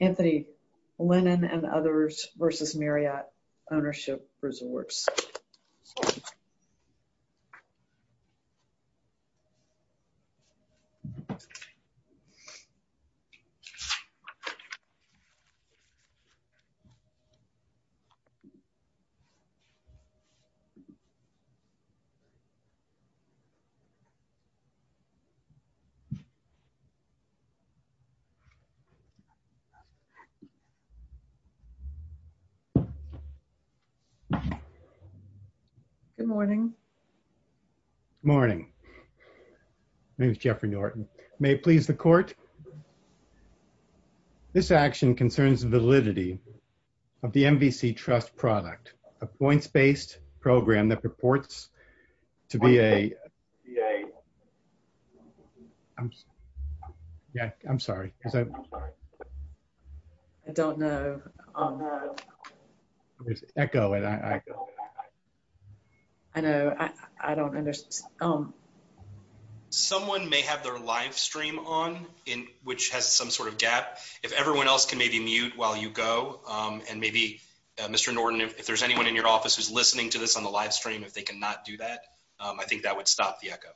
Anthony Lennon and Others v. Marriott Ownership Resorts. Good morning, morning. My name is Jeffrey Norton. May it please the court. This action concerns validity of the MVC Trust product, a points-based program that purports to be a... I'm sorry. I don't know. I know. I don't understand. Someone may have their live stream on, which has some sort of gap. If everyone else can maybe mute while you go, and maybe, Mr. Norton, if there's anyone in your office who's listening to this on I think that would stop the echo.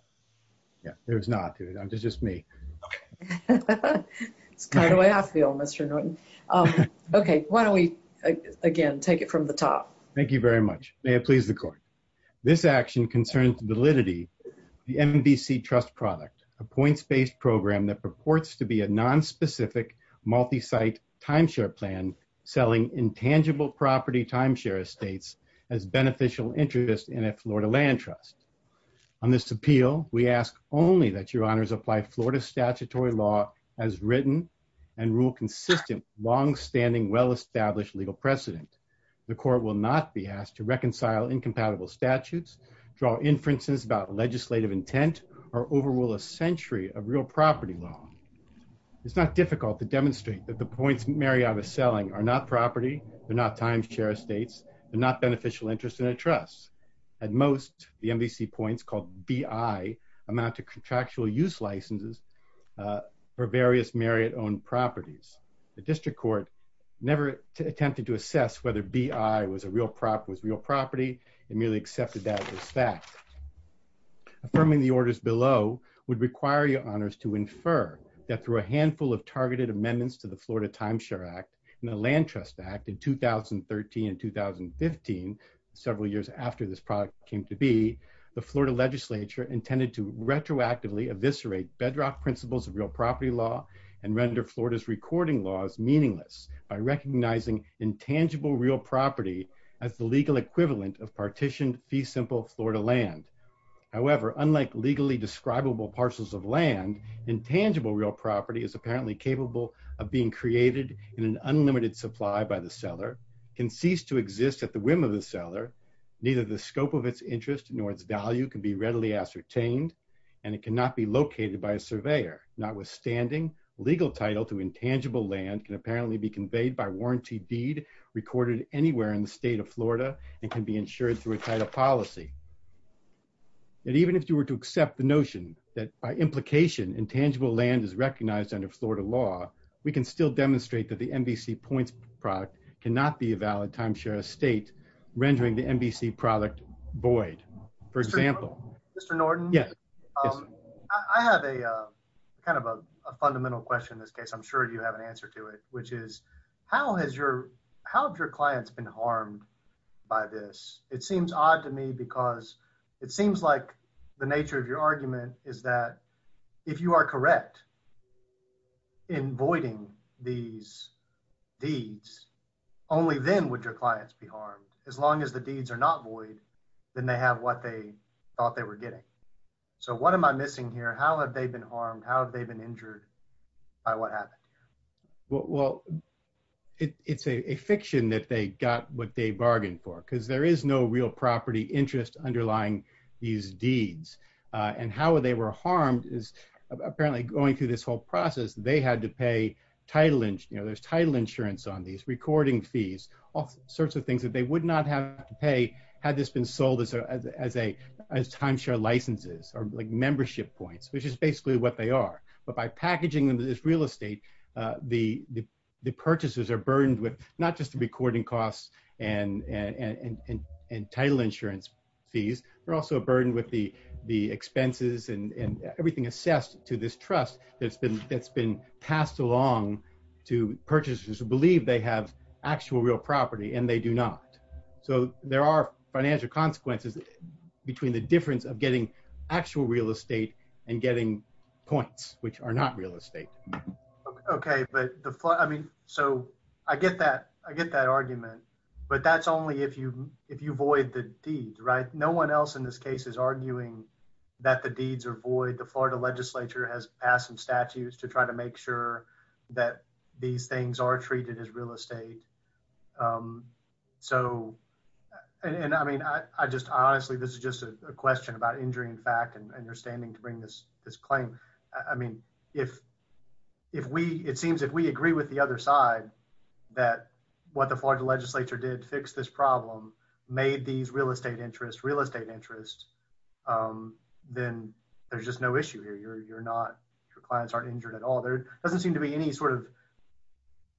Yeah, there's not. It's just me. It's kind of how I feel, Mr. Norton. Okay, why don't we, again, take it from the top. Thank you very much. May it please the court. This action concerns validity of the MVC Trust product, a points-based program that purports to be a non-specific multi-site timeshare plan selling intangible property timeshare estates as beneficial interest in a Florida land trust. On this appeal, we ask only that your honors apply Florida statutory law as written and rule consistent long-standing well-established legal precedent. The court will not be asked to reconcile incompatible statutes, draw inferences about legislative intent, or overrule a century of not property, they're not timeshare estates, they're not beneficial interest in a trust. At most, the MVC points called B.I. amount to contractual use licenses for various Marriott-owned properties. The district court never attempted to assess whether B.I. was real property. It merely accepted that as fact. Affirming the orders below would require your honors to infer that through a handful of targeted amendments to the Florida Timeshare Act and the Land Trust Act in 2013 and 2015, several years after this product came to be, the Florida legislature intended to retroactively eviscerate bedrock principles of real property law and render Florida's recording laws meaningless by recognizing intangible real property as the legal equivalent of partitioned simple Florida land. However, unlike legally describable parcels of land, intangible real property is apparently capable of being created in an unlimited supply by the seller, can cease to exist at the whim of the seller, neither the scope of its interest nor its value can be readily ascertained, and it cannot be located by a surveyor. Notwithstanding, legal title to intangible land can apparently be conveyed by warranty deed recorded anywhere in the state of Florida and can be insured through a title policy. And even if you were to accept the notion that by implication intangible land is recognized under Florida law, we can still demonstrate that the NBC Points product cannot be a valid timeshare estate, rendering the NBC product void. For example... Mr. Norton, I have a kind of a fundamental question in this case. I'm sure you have an by this. It seems odd to me because it seems like the nature of your argument is that if you are correct in voiding these deeds, only then would your clients be harmed. As long as the deeds are not void, then they have what they thought they were getting. So what am I missing here? How have they been harmed? How have they been injured by what happened here? Well, it's a fiction that they got what they bargained for, because there is no real property interest underlying these deeds. And how they were harmed is apparently going through this whole process, they had to pay title insurance on these, recording fees, all sorts of things that they would not have to pay had this been sold as timeshare licenses or like membership points, which is basically what they are. But by packaging this real estate, the purchasers are burdened with not just the recording costs and title insurance fees, they're also burdened with the expenses and everything assessed to this trust that's been passed along to purchasers who believe they have actual real property and they do not. So there are financial consequences between the difference of getting actual real estate and getting points, which are not real estate. Okay, but I mean, so I get that, I get that argument. But that's only if you if you void the deed, right? No one else in this case is arguing that the deeds are void. The Florida legislature has passed some statutes to try to make sure that these things are treated as real estate. Um, so, and I mean, I just honestly, this is just a question about injury in fact, and you're standing to bring this this claim. I mean, if, if we it seems if we agree with the other side, that what the Florida legislature did fix this problem, made these real estate interest real estate interest, then there's just no issue here. You're not your clients aren't injured at all. Doesn't seem to be any sort of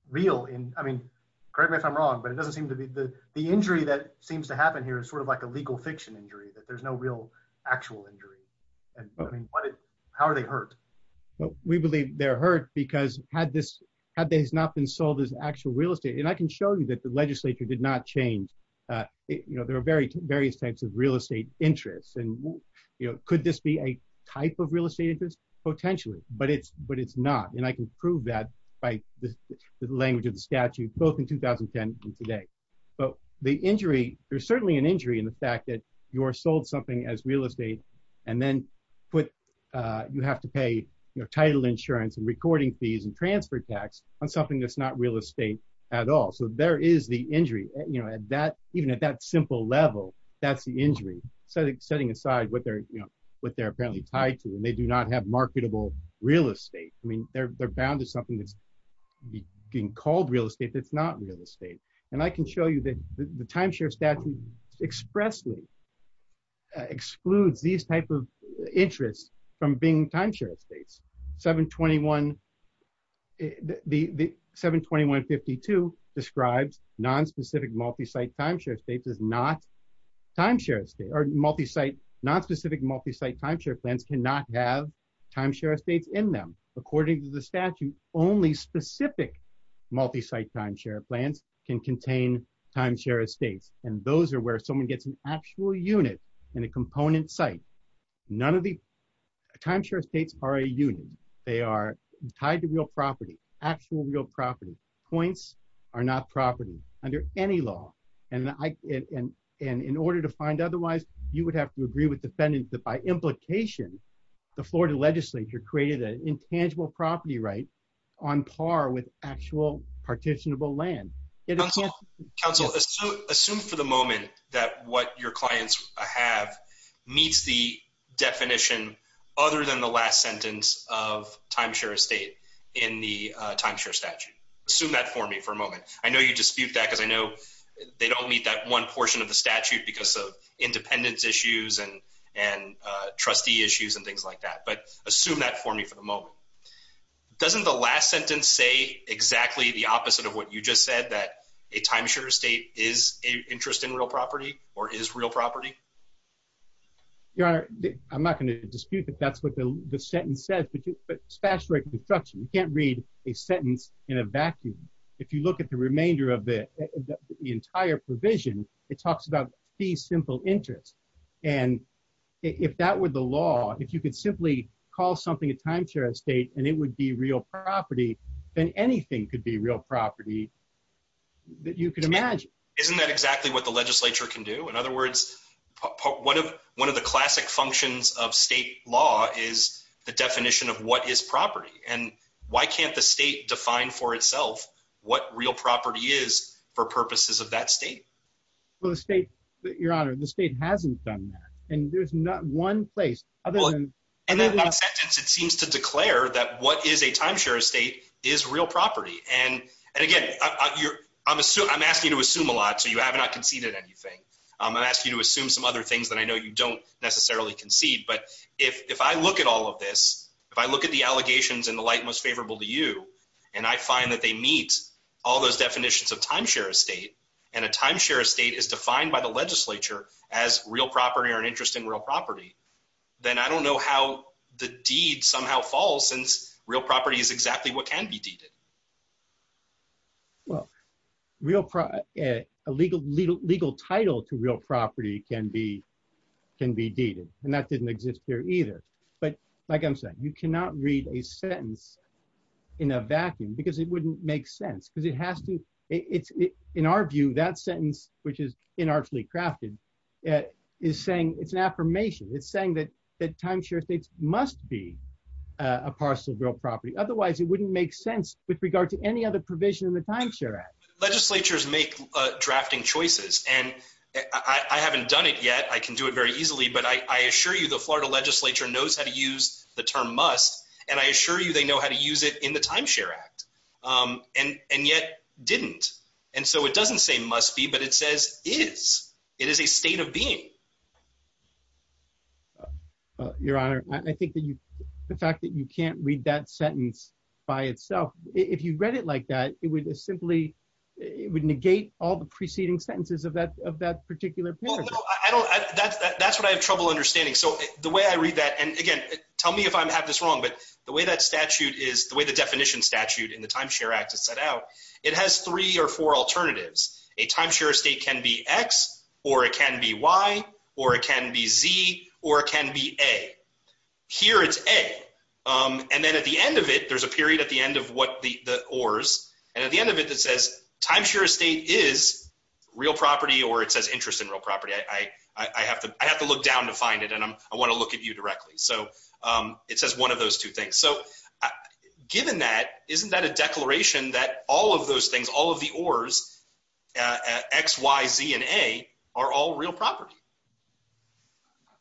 real in I mean, correct me if I'm wrong, but it doesn't seem to be the the injury that seems to happen here is sort of like a legal fiction injury that there's no real actual injury. And I mean, how are they hurt? We believe they're hurt because had this had these not been sold as actual real estate, and I can show you that the legislature did not change. You know, there are very various types of real estate interests. And, you know, could this be a type of real estate interest? Potentially, but it's but it's not. And I can prove that by the language of the statute, both in 2010, and today. But the injury, there's certainly an injury in the fact that you are sold something as real estate, and then put, you have to pay your title insurance and recording fees and transfer tax on something that's not real estate at all. So there is the injury, you know, that even at that simple level, that's the injury. So setting aside what they're, you know, what they're apparently tied to, and they do not have marketable real estate. I mean, they're bound to something that's being called real estate, that's not real estate. And I can show you that the timeshare statute expressly excludes these type of interests from being timeshare estates 721. The 721 52 describes non specific multi site timeshare states is not timeshare state or multi site, not specific multi site timeshare plans cannot have timeshare estates in them. According to the statute, only specific multi site timeshare plans can contain timeshare estates. And those are where someone gets an actual unit and a component site. None of the timeshare states are a unit, they are tied to real property, actual real property points are not property under any law. And in order to find otherwise, you would have to agree with defendants that by implication, the Florida legislature created an intangible property right on par with actual partitionable land. Council assume for the moment that what your clients have meets the definition, other than the last sentence of timeshare estate in the timeshare statute. Assume that for me for a moment. I know you dispute that because I know they don't meet that one portion of the statute because of independence issues and, and trustee issues and things like that. But assume that for me for the moment. Doesn't the last sentence say exactly the opposite of what you just said that a timeshare estate is a interest in real property or is real property? Your honor, I'm not going to dispute that that's what the sentence says, but you but statutory construction, you can't read a sentence in a vacuum. If you look at the remainder of the entire provision, it talks about the simple interest. And if that were the law, if you could simply call something a timeshare estate, and it would be real property, then anything could be real property that you can imagine. Isn't that exactly what the legislature can do? In other words, one of one of the classic functions of state law is the definition of what is property. And why can't the state define for itself what real property is for purposes of that state? Well, the state, your honor, the state hasn't done that. And there's not one place. And then that sentence, it seems to declare that what is a timeshare estate is real property. And, and again, you're, I'm assuming I'm asking you to assume a lot. So you have not conceded anything. I'm gonna ask you to assume some other things that I know you don't necessarily concede. But if I look at all of this, if I look at the allegations in the light most favorable to you, and I find that they meet all those definitions of timeshare estate, and a timeshare estate is defined by the legislature as real property or an interest in real property, then I don't know how the deed somehow falls since real property is exactly what can be deeded. Well, real, a legal title to real property can be, can be deeded. And that didn't exist here either. But like I'm saying, you cannot read a sentence in a vacuum because it wouldn't make sense because it has to, it's, in our view, that sentence, which is inartially crafted, is saying it's an affirmation. It's saying that, that timeshare estate must be a parcel of real property. And it's saying that it's a state of being. And it's saying that it is a state of being with regard to any other provision in the timeshare act. Legislatures make drafting choices. And I haven't done it yet. I can do it very easily. But I assure you, the Florida legislature knows how to use the term must. And I assure you, they know how to use it in the timeshare act. And, and yet didn't. And so it doesn't say must be, but it says is, it is a state of being. If you read it like that, it would simply, it would negate all the preceding sentences of that, of that particular paragraph. I don't, that's, that's what I have trouble understanding. So the way I read that, and again, tell me if I have this wrong, but the way that statute is, the way the definition statute in the timeshare act is set out, it has three or four alternatives. A timeshare estate can be X or it can be Y or it can be Z or it can be A. Here it's A. And then at the end of it, there's a period at the end of what the, the oars. And at the end of it, that says timeshare estate is real property, or it says interest in real property. I, I, I have to, I have to look down to find it. And I'm, I want to look at you directly. So it says one of those two things. So given that, isn't that a declaration that all of those things, all of the oars, X, Y, Z, and A are all real property.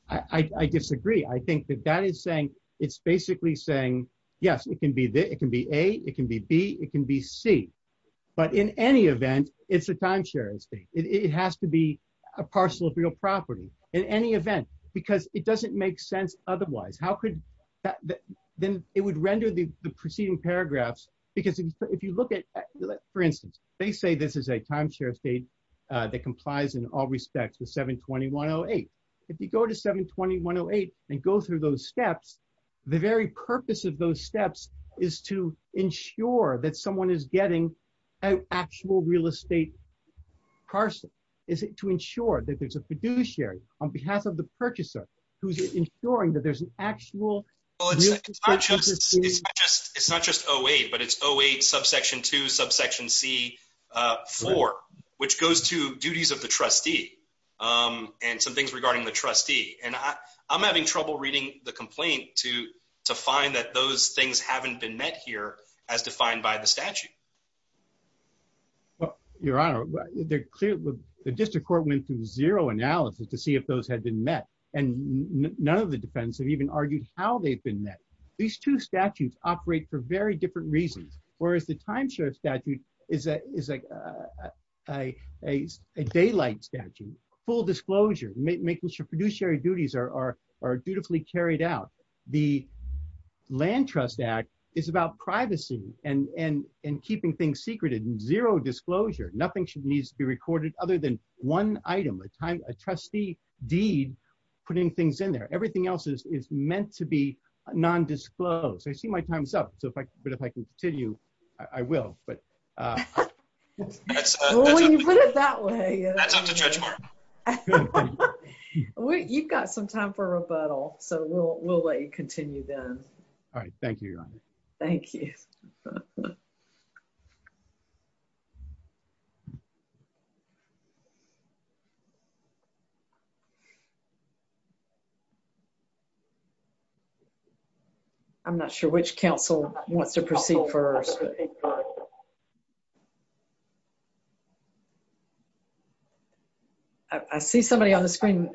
I disagree. I think that that is saying it's basically saying, yes, it can be, it can be A, it can be B, it can be C, but in any event, it's a timeshare estate. It has to be a parcel of real property in any event, because it doesn't make sense. Otherwise, how could that, then it would render the preceding paragraphs. Because if you look at, for instance, they say, this is a timeshare estate that complies in all respects to 720-108. If you go to 720-108, and go through those steps, the very purpose of those steps is to ensure that someone is getting an actual real estate parcel. Is it to ensure that there's a fiduciary on behalf of the purchaser, who's ensuring that there's an actual... It's not just 08, but it's 08 subsection 2, subsection C4, which goes to duties of the and some things regarding the trustee. And I'm having trouble reading the complaint to to find that those things haven't been met here, as defined by the statute. Well, Your Honor, they're clear, the district court went through zero analysis to see if those had been met. And none of the defense have even argued how they've been met. These two statutes operate for very different reasons. Whereas the timeshare statute is a daylight statute, full disclosure, making sure fiduciary duties are dutifully carried out. The Land Trust Act is about privacy and keeping things secret and zero disclosure. Nothing needs to be recorded other than one item, a time, a trustee deed, putting things in there. Everything else is meant to be non-disclosed. I see my time's up, but if I can continue, I will. But when you put it that way, you've got some time for rebuttal, so we'll let you continue then. All right. Thank you, Your Honor. Thank you. I'm not sure which counsel wants to proceed first. I see somebody on the screen.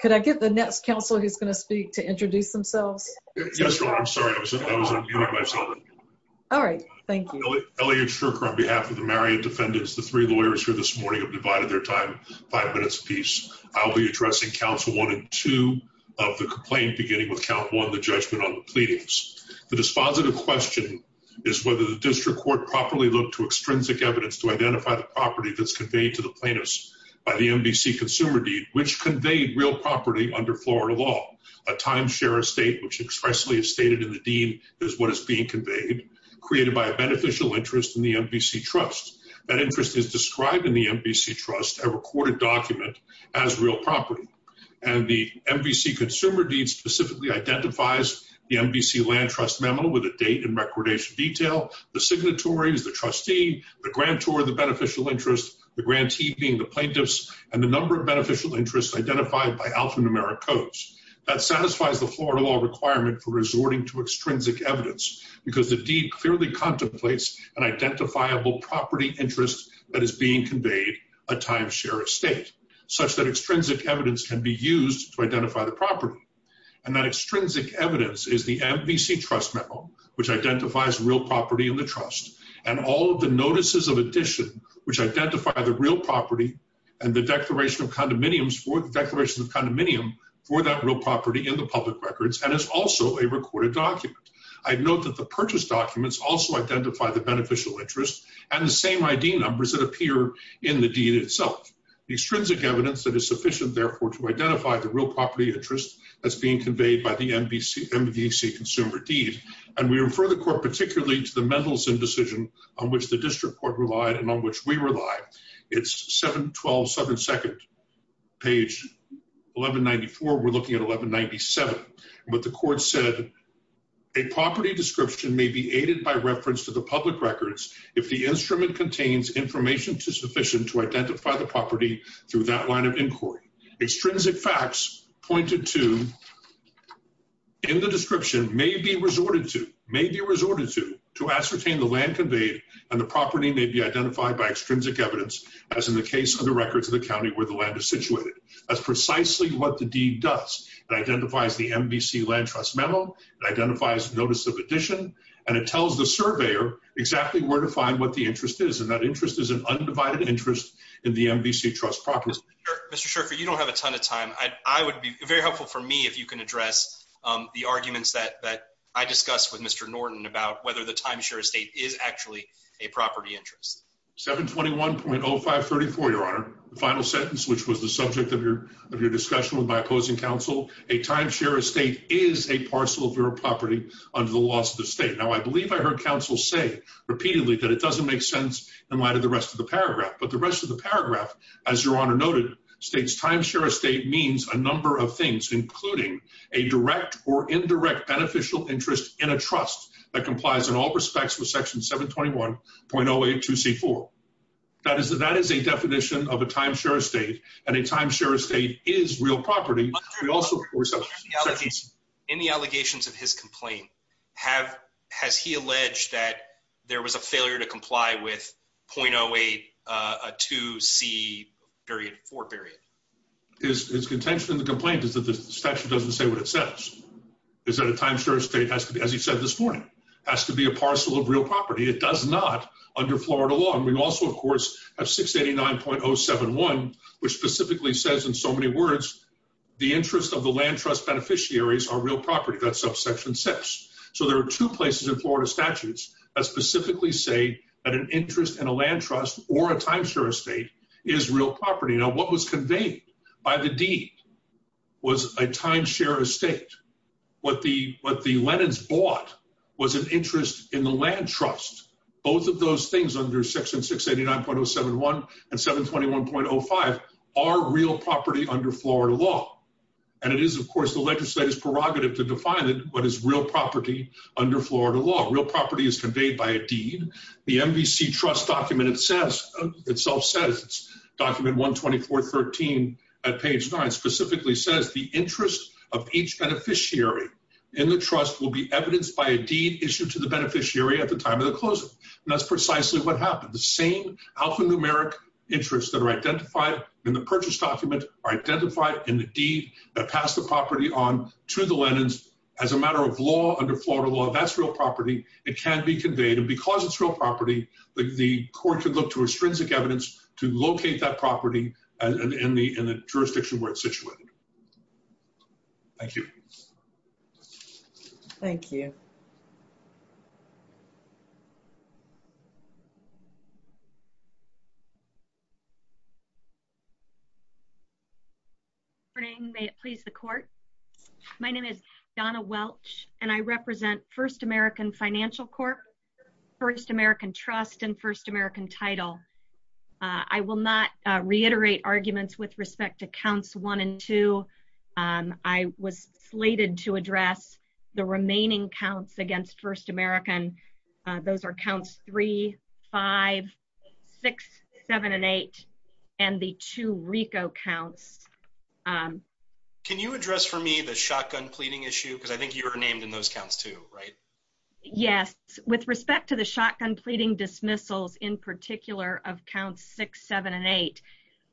Could I get the next counsel who's going to speak to introduce themselves? Yes, Your Honor. I'm sorry. I was unmuting myself. All right. Thank you. Elliot Shurker on behalf of the Marion defendants, the three lawyers here this morning have divided their time, five minutes apiece. I'll be addressing counsel one and two of the complaint beginning with count one, the judgment on the pleadings. The dispositive question is whether the district court properly looked to extrinsic evidence to identify the property that's conveyed to the plaintiffs by the MDC consumer deed, which conveyed real property under Florida law. A timeshare estate, which expressly is stated in the deed, is what is being conveyed, created by a beneficial interest in the MDC trust. That interest is described in the MDC trust, a recorded document, as real property. And the MDC consumer deed specifically identifies the MDC land trust memo with a date and recordation detail, the signatories, the trustee, the grantor, the beneficial interest, the grantee being the plaintiffs, and the number of beneficial interests identified by alphanumeric codes that satisfies the Florida law requirement for resorting to extrinsic evidence because the deed clearly contemplates an identifiable property interest that is being conveyed a timeshare estate such that extrinsic evidence can be used to identify the property. And that extrinsic evidence is the MDC trust memo, which identifies real property in the trust and all of the notices of addition, which identify the real property and the declaration of condominiums for the declaration of condominium for that real property in the public records. And it's also a recorded document. I'd note that the purchase documents also identify the beneficial interest and the same ID numbers that appear in the deed itself. The extrinsic evidence that is sufficient, therefore, to identify the real property interest that's being conveyed by the MDC consumer deed. And we refer the court particularly to the Mendelson decision on which the district court relied and on which we rely. It's 7-12-7-2, page 1194. We're looking at 1197. But the court said a property description may be aided by reference to the public records if the instrument contains information to sufficient to identify the property through that line of inquiry. Extrinsic facts pointed to in the description may be to ascertain the land conveyed and the property may be identified by extrinsic evidence, as in the case of the records of the county where the land is situated. That's precisely what the deed does. It identifies the MDC land trust memo, it identifies notice of addition, and it tells the surveyor exactly where to find what the interest is. And that interest is an undivided interest in the MDC trust property. Mr. Scherfer, you don't have a ton of time. I would I discuss with Mr. Norton about whether the timeshare estate is actually a property interest. 721.0534, Your Honor. The final sentence, which was the subject of your discussion with my opposing counsel, a timeshare estate is a parcel of your property under the laws of the state. Now, I believe I heard counsel say repeatedly that it doesn't make sense in light of the rest of the paragraph. But the rest of the paragraph, as Your Honor noted, states timeshare estate means a direct or indirect beneficial interest in a trust that complies in all respects with section 721.082c4. That is a definition of a timeshare estate, and a timeshare estate is real property. In the allegations of his complaint, has he alleged that there was a failure to comply with .082c4? His contention in the complaint is that the statute doesn't say what it is that a timeshare estate has to be, as he said this morning, has to be a parcel of real property. It does not under Florida law. And we also, of course, have 689.071, which specifically says in so many words, the interest of the land trust beneficiaries are real property. That's up section six. So there are two places in Florida statutes that specifically say that an interest in a land trust or a timeshare estate is real property. Now, what was conveyed by the deed was a timeshare estate. What the Lennons bought was an interest in the land trust. Both of those things under section 689.071 and 721.05 are real property under Florida law. And it is, of course, the legislative prerogative to define what is real property under Florida law. Real property is conveyed by a deed. The MVC trust document itself says, document 124.13 at page nine, specifically says the interest of each beneficiary in the trust will be evidenced by a deed issued to the beneficiary at the time of the closing. And that's precisely what happened. The same alphanumeric interests that are identified in the purchase document are identified in the deed that passed the property on to the Lennons as a matter of law under Florida law. That's real property. It can be conveyed. And because it's real property, the court can look to extrinsic evidence to locate that property in the jurisdiction where it's situated. Thank you. Thank you. Good morning. May it please the court. My name is Donna Welch and I represent First American title. I will not reiterate arguments with respect to counts one and two. I was slated to address the remaining counts against First American. Those are counts three, five, six, seven and eight and the two Rico counts. Can you address for me the shotgun pleading issue? Because I think you were named in those counts too, right? Yes. With respect to the shotgun pleading dismissals in particular of counts six, seven and eight,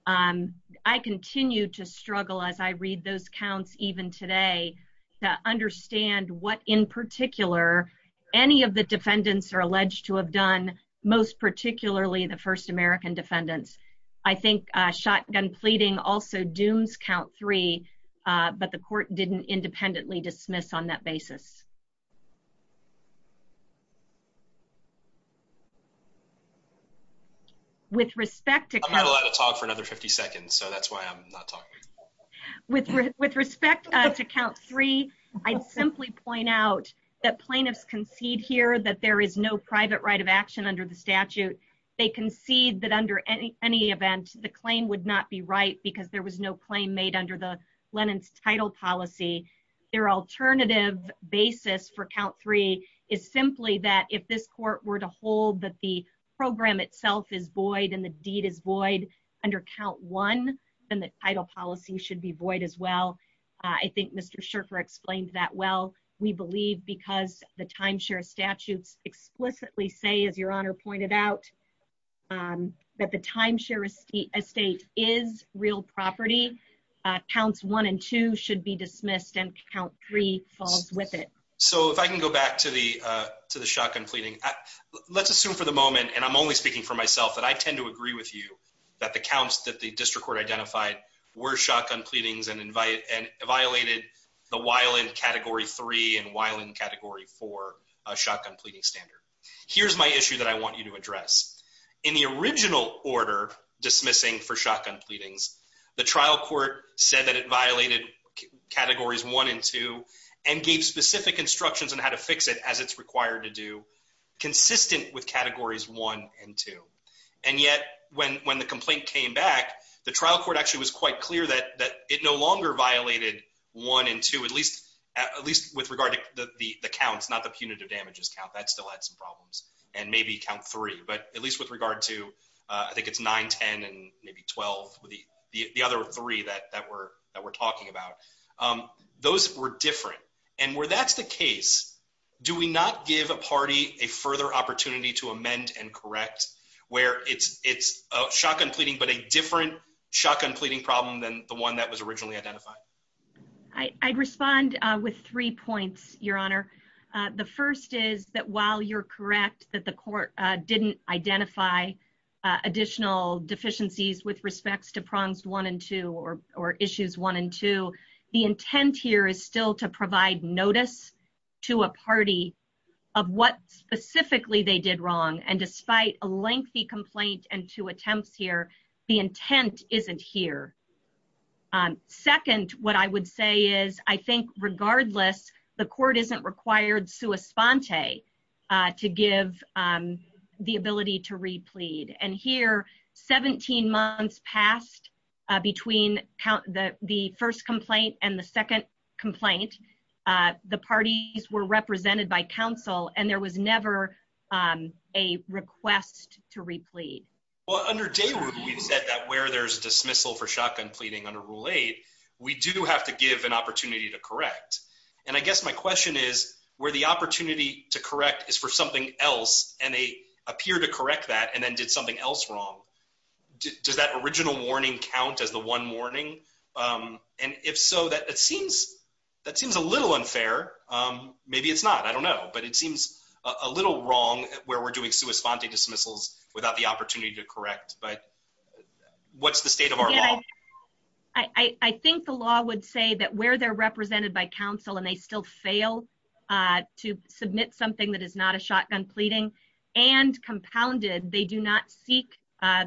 I continue to struggle as I read those counts even today to understand what in particular any of the defendants are alleged to have done, most particularly the First American defendants. I think shotgun pleading also dooms count three, but the court didn't independently dismiss on that basis. I'm not allowed to talk for another 50 seconds, so that's why I'm not talking. With respect to count three, I'd simply point out that plaintiffs concede here that there is no private right of action under the statute. They concede that under any event the claim would not be right because there was no claim made under the Lenin's title policy. Their alternative basis for count three is simply that if this court were to hold that the program itself is void and the deed is void under count one, then the title policy should be void as well. I think Mr. Shirker explained that well. We believe because the timeshare statutes explicitly say, as your honor pointed out, that the timeshare estate is real property. Counts one and two should be dismissed and count three falls with it. If I can go back to the shotgun pleading, let's assume for the moment, and I'm only speaking for myself, that I tend to agree with you that the counts that the district court identified were shotgun pleadings and violated the Weiland category three and Weiland category four shotgun pleading standard. Here's my issue that I want you to address. In the original order dismissing for shotgun pleadings, the trial court said that it violated categories one and two and gave specific instructions on how to fix it as it's required to do, consistent with categories one and two. And yet when the complaint came back, the trial court actually was quite clear that it no longer violated one and two, at least with regard to the counts, not the punitive damages count. That still had some problems. And maybe count three, but at least with regard to, I think it's nine, ten, and maybe 12, the other three that we're talking about. Those were different. And where that's the case, do we not give a party a further opportunity to amend and correct where it's a shotgun pleading, but a different shotgun pleading problem than the one that was originally identified? I'd respond with three points, your honor. The first is that while you're correct that the court didn't identify additional deficiencies with respects to prongs one and two or issues one and two, the intent here is still to provide notice to a party of what specifically they did wrong. And despite a lengthy complaint and two attempts here, the intent isn't here. Second, what I would say is I think regardless, the court isn't required sua sponte to give the ability to replead. And here, 17 months passed between the first complaint and the second complaint. The parties were represented by counsel and there was never a request to replead. Well, under day work, we've said that where there's dismissal for shotgun pleading under rule eight, we do have to give an opportunity to correct. And I guess my question is where the opportunity to correct is for something else and they appear to correct that and then did something else wrong. Does that original warning count as the one warning? And if so, that seems a little unfair. Maybe it's not, I don't know, but it seems a little wrong where we're doing sua sponte dismissals without the opportunity to correct. But what's the state of our law? I think the law would say that where they're represented by counsel and they still fail to submit something that is not a shotgun pleading and compounded, they do not seek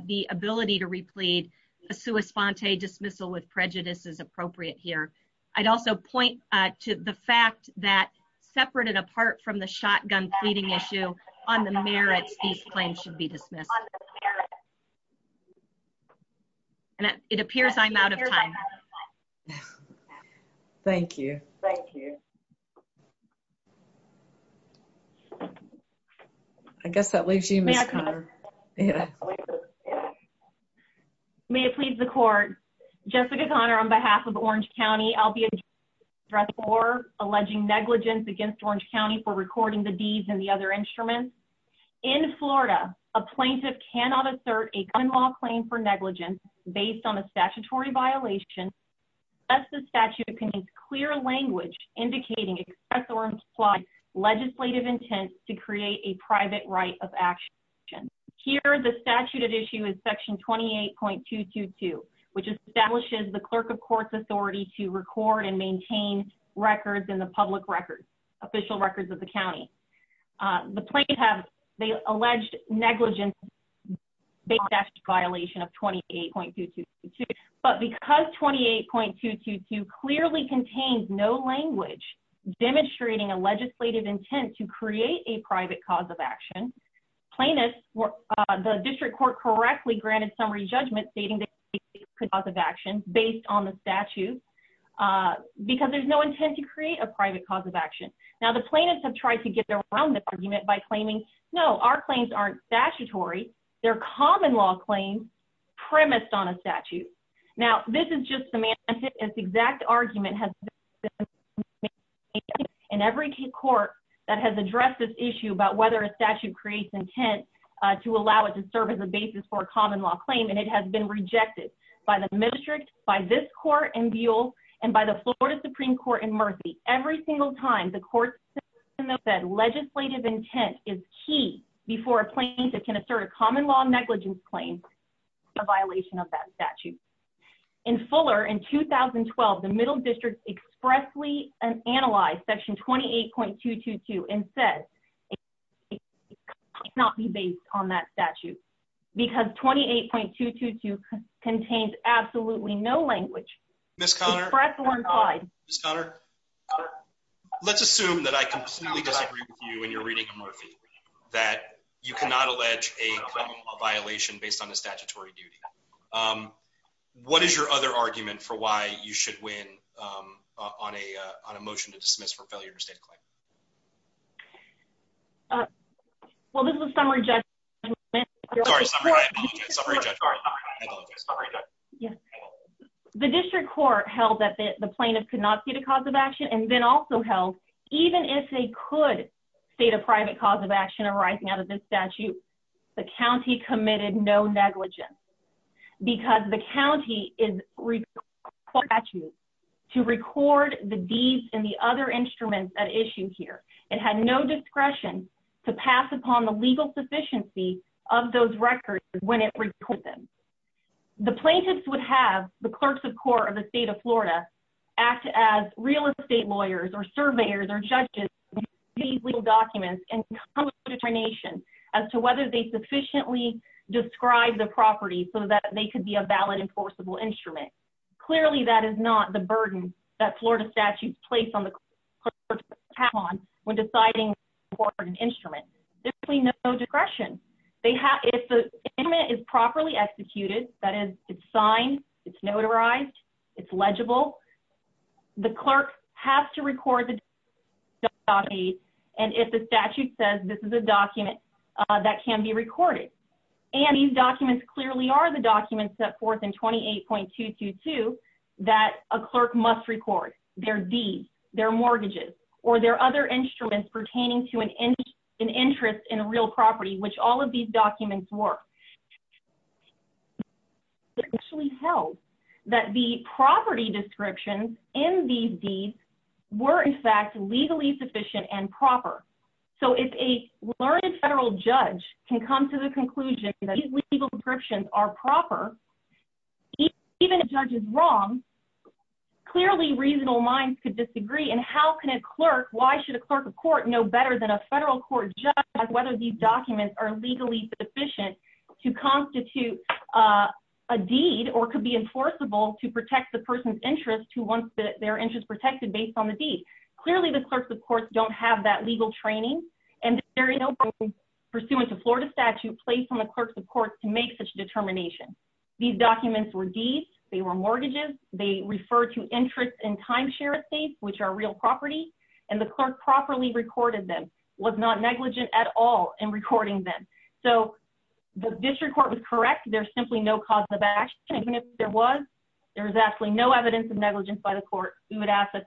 the ability to replead a sua sponte dismissal with prejudice is appropriate here. I'd also point to the fact that separate and apart from the shotgun pleading issue on the merits, these claims should be dismissed. And it appears I'm out of time. Thank you. Thank you. I guess that leaves you. May it please the court, Jessica Connor, on behalf of Orange County, I'll be dressed for alleging negligence against Orange County for recording the D's and the other instruments. In Florida, a plaintiff cannot assert a gun law claim for negligence based on a statutory violation. Thus the statute contains clear language indicating excessive or implied legislative intent to create a private right of action. Here, the statute at issue is section 28.222, which establishes the clerk of court's authority to record and maintain records in the official records of the county. The plaintiff has the alleged negligence based on a statutory violation of 28.222. But because 28.222 clearly contains no language demonstrating a legislative intent to create a private cause of action, plaintiffs, the district court correctly granted summary judgment stating the cause of action based on the statute. Uh, because there's no intent to create a private cause of action. Now, the plaintiffs have tried to get around this argument by claiming, no, our claims aren't statutory. They're common law claims premised on a statute. Now, this is just semantic and the exact argument has been made in every court that has addressed this issue about whether a statute creates intent to allow it to serve as a and by the Florida Supreme Court in Murphy. Every single time the court said legislative intent is key before a plaintiff can assert a common law negligence claim, a violation of that statute. In Fuller in 2012, the middle district expressly analyzed section 28.222 and said not be based on that statute because 28.222 contains absolutely no language. Let's assume that I completely disagree with you when you're reading in Murphy that you cannot allege a violation based on the statutory duty. What is your other argument for why you should win on a motion to dismiss for failure to state claim? Well, this is a summary judgment. The district court held that the plaintiff could not see the cause of action and then also held even if they could state a private cause of action arising out of this statute, the county committed no negligence because the county is required to record the deeds and the other instruments at issue here. It had no discretion to pass upon the legal sufficiency of those records when it reported them. The plaintiffs would have the clerks of court of the state of Florida act as real estate lawyers or surveyors or judges these legal documents and come up with a determination as to whether they sufficiently describe the property so that they could be a valid enforceable instrument. Clearly that is not the burden that Florida statutes place on the clerk to pass upon when deciding to report an instrument. There is no discretion. If the instrument is properly executed, that is it's signed, it's notarized, it's legible, the clerk has to record the document and if the statute says this is a document that can be recorded and these documents clearly are the that a clerk must record, their deeds, their mortgages, or their other instruments pertaining to an interest in a real property which all of these documents were, it actually held that the property descriptions in these deeds were in fact legally sufficient and proper. So if a learned federal judge can come to the conclusion that these legal descriptions are proper, even if the judge is wrong, clearly reasonable minds could disagree and how can a clerk, why should a clerk of court know better than a federal court judge whether these documents are legally sufficient to constitute a deed or could be enforceable to protect the person's interest who wants their interest protected based on the deed. Clearly the clerks of court don't have that legal training and there is no burden pursuant to Florida statute placed on the clerks to make such a determination. These documents were deeds, they were mortgages, they refer to interest and timeshare at states which are real property and the clerk properly recorded them, was not negligent at all in recording them. So the district court was correct, there's simply no cause of action, even if there was, there is absolutely no evidence of negligence by the court who would ask that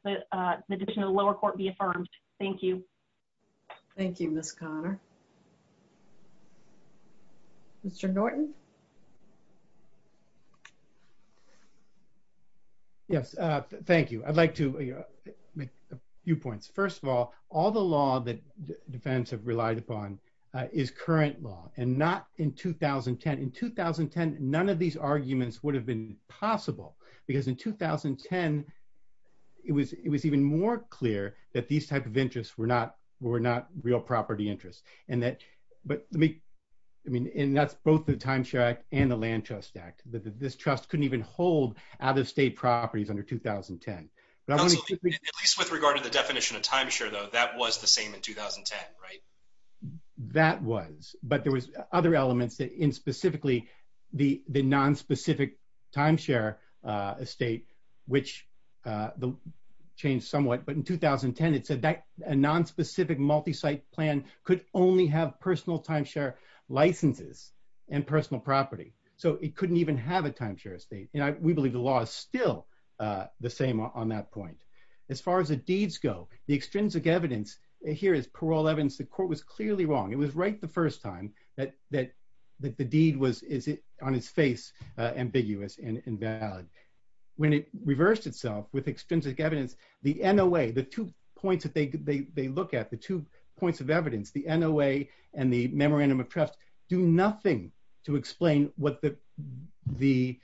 the decision of the lower court be affirmed. Thank you. Thank you, Ms. Connor. Mr. Norton. Yes, thank you. I'd like to make a few points. First of all, all the law that defense have relied upon is current law and not in 2010. In 2010, none of these arguments would have been possible because in 2010, it was even more clear that these type of interests were not real property interests and that, but let me, I mean, and that's both the timeshare act and the land trust act. This trust couldn't even hold out-of-state properties under 2010. At least with regard to the definition of timeshare though, that was the same in 2010, right? That was, but there was other elements that in specifically the non-specific timeshare estate, which changed somewhat, but in 2010, the non-specific timeshare estate could only have personal timeshare licenses and personal property. So it couldn't even have a timeshare estate. And I, we believe the law is still the same on that point. As far as the deeds go, the extrinsic evidence here is parole evidence. The court was clearly wrong. It was right the first time that, that, that the deed was, is it on his face, ambiguous and invalid. When it reversed itself with extrinsic evidence, the NOA, the two points that they, they, they look at the two points of evidence, the NOA and the memorandum of trust do nothing to explain what the, the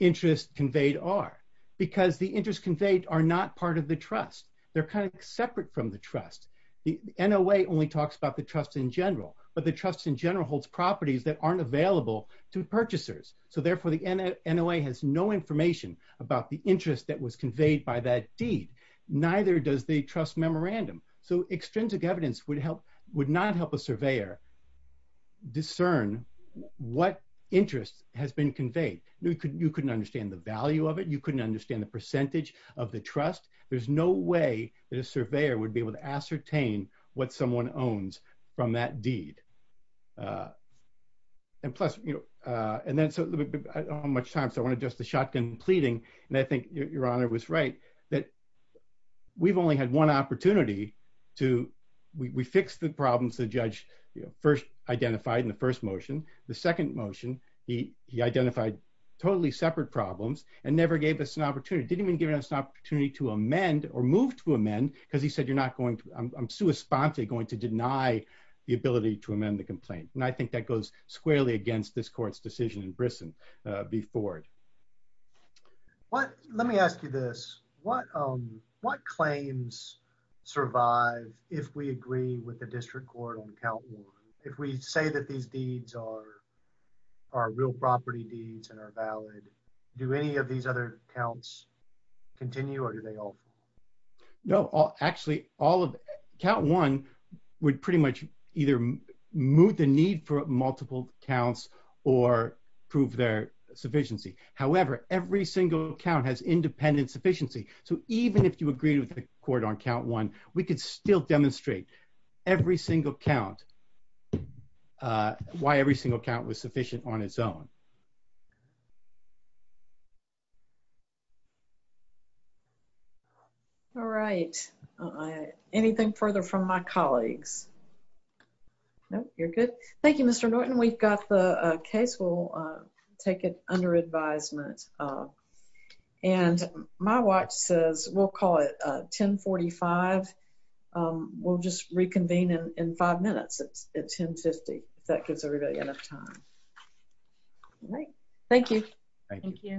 interest conveyed are because the interest conveyed are not part of the trust. They're kind of separate from the trust. The NOA only talks about the trust in general, but the trust in general holds properties that aren't available to purchasers. So therefore the NOA has no information about the interest that was conveyed by that deed. Neither does the trust memorandum. So extrinsic evidence would help, would not help a surveyor discern what interest has been conveyed. You couldn't, you couldn't understand the value of it. You couldn't understand the percentage of the trust. There's no way that a surveyor would be able to ascertain what someone owns from that deed. And plus, you know, and then so much time, so I want just a shotgun pleading. And I think your honor was right that we've only had one opportunity to, we fixed the problems the judge first identified in the first motion. The second motion, he identified totally separate problems and never gave us an opportunity, didn't even give us an opportunity to amend or move to amend because he said, you're not going to, I'm sui sponte going to deny the ability to amend the complaint. And I think that goes squarely against this court's decision in Brisson before it. What, let me ask you this, what, what claims survive if we agree with the district court on count one, if we say that these deeds are, are real property deeds and are valid, do any of these other counts continue or do they all fall? No, actually all of, count one would pretty much either move the need for multiple counts or prove their sufficiency. However, every single count has independent sufficiency. So even if you agree with the court on count one, we could still demonstrate every single count, why every single count was sufficient on its own. All right. Anything further from my colleagues? No, you're good. Thank you, Mr. Norton. We've got the case. We'll take it under advisement. And my watch says we'll call it 1045. We'll just reconvene in five minutes at 1050. If that gives everybody enough time. All right. Thank you. Thank you.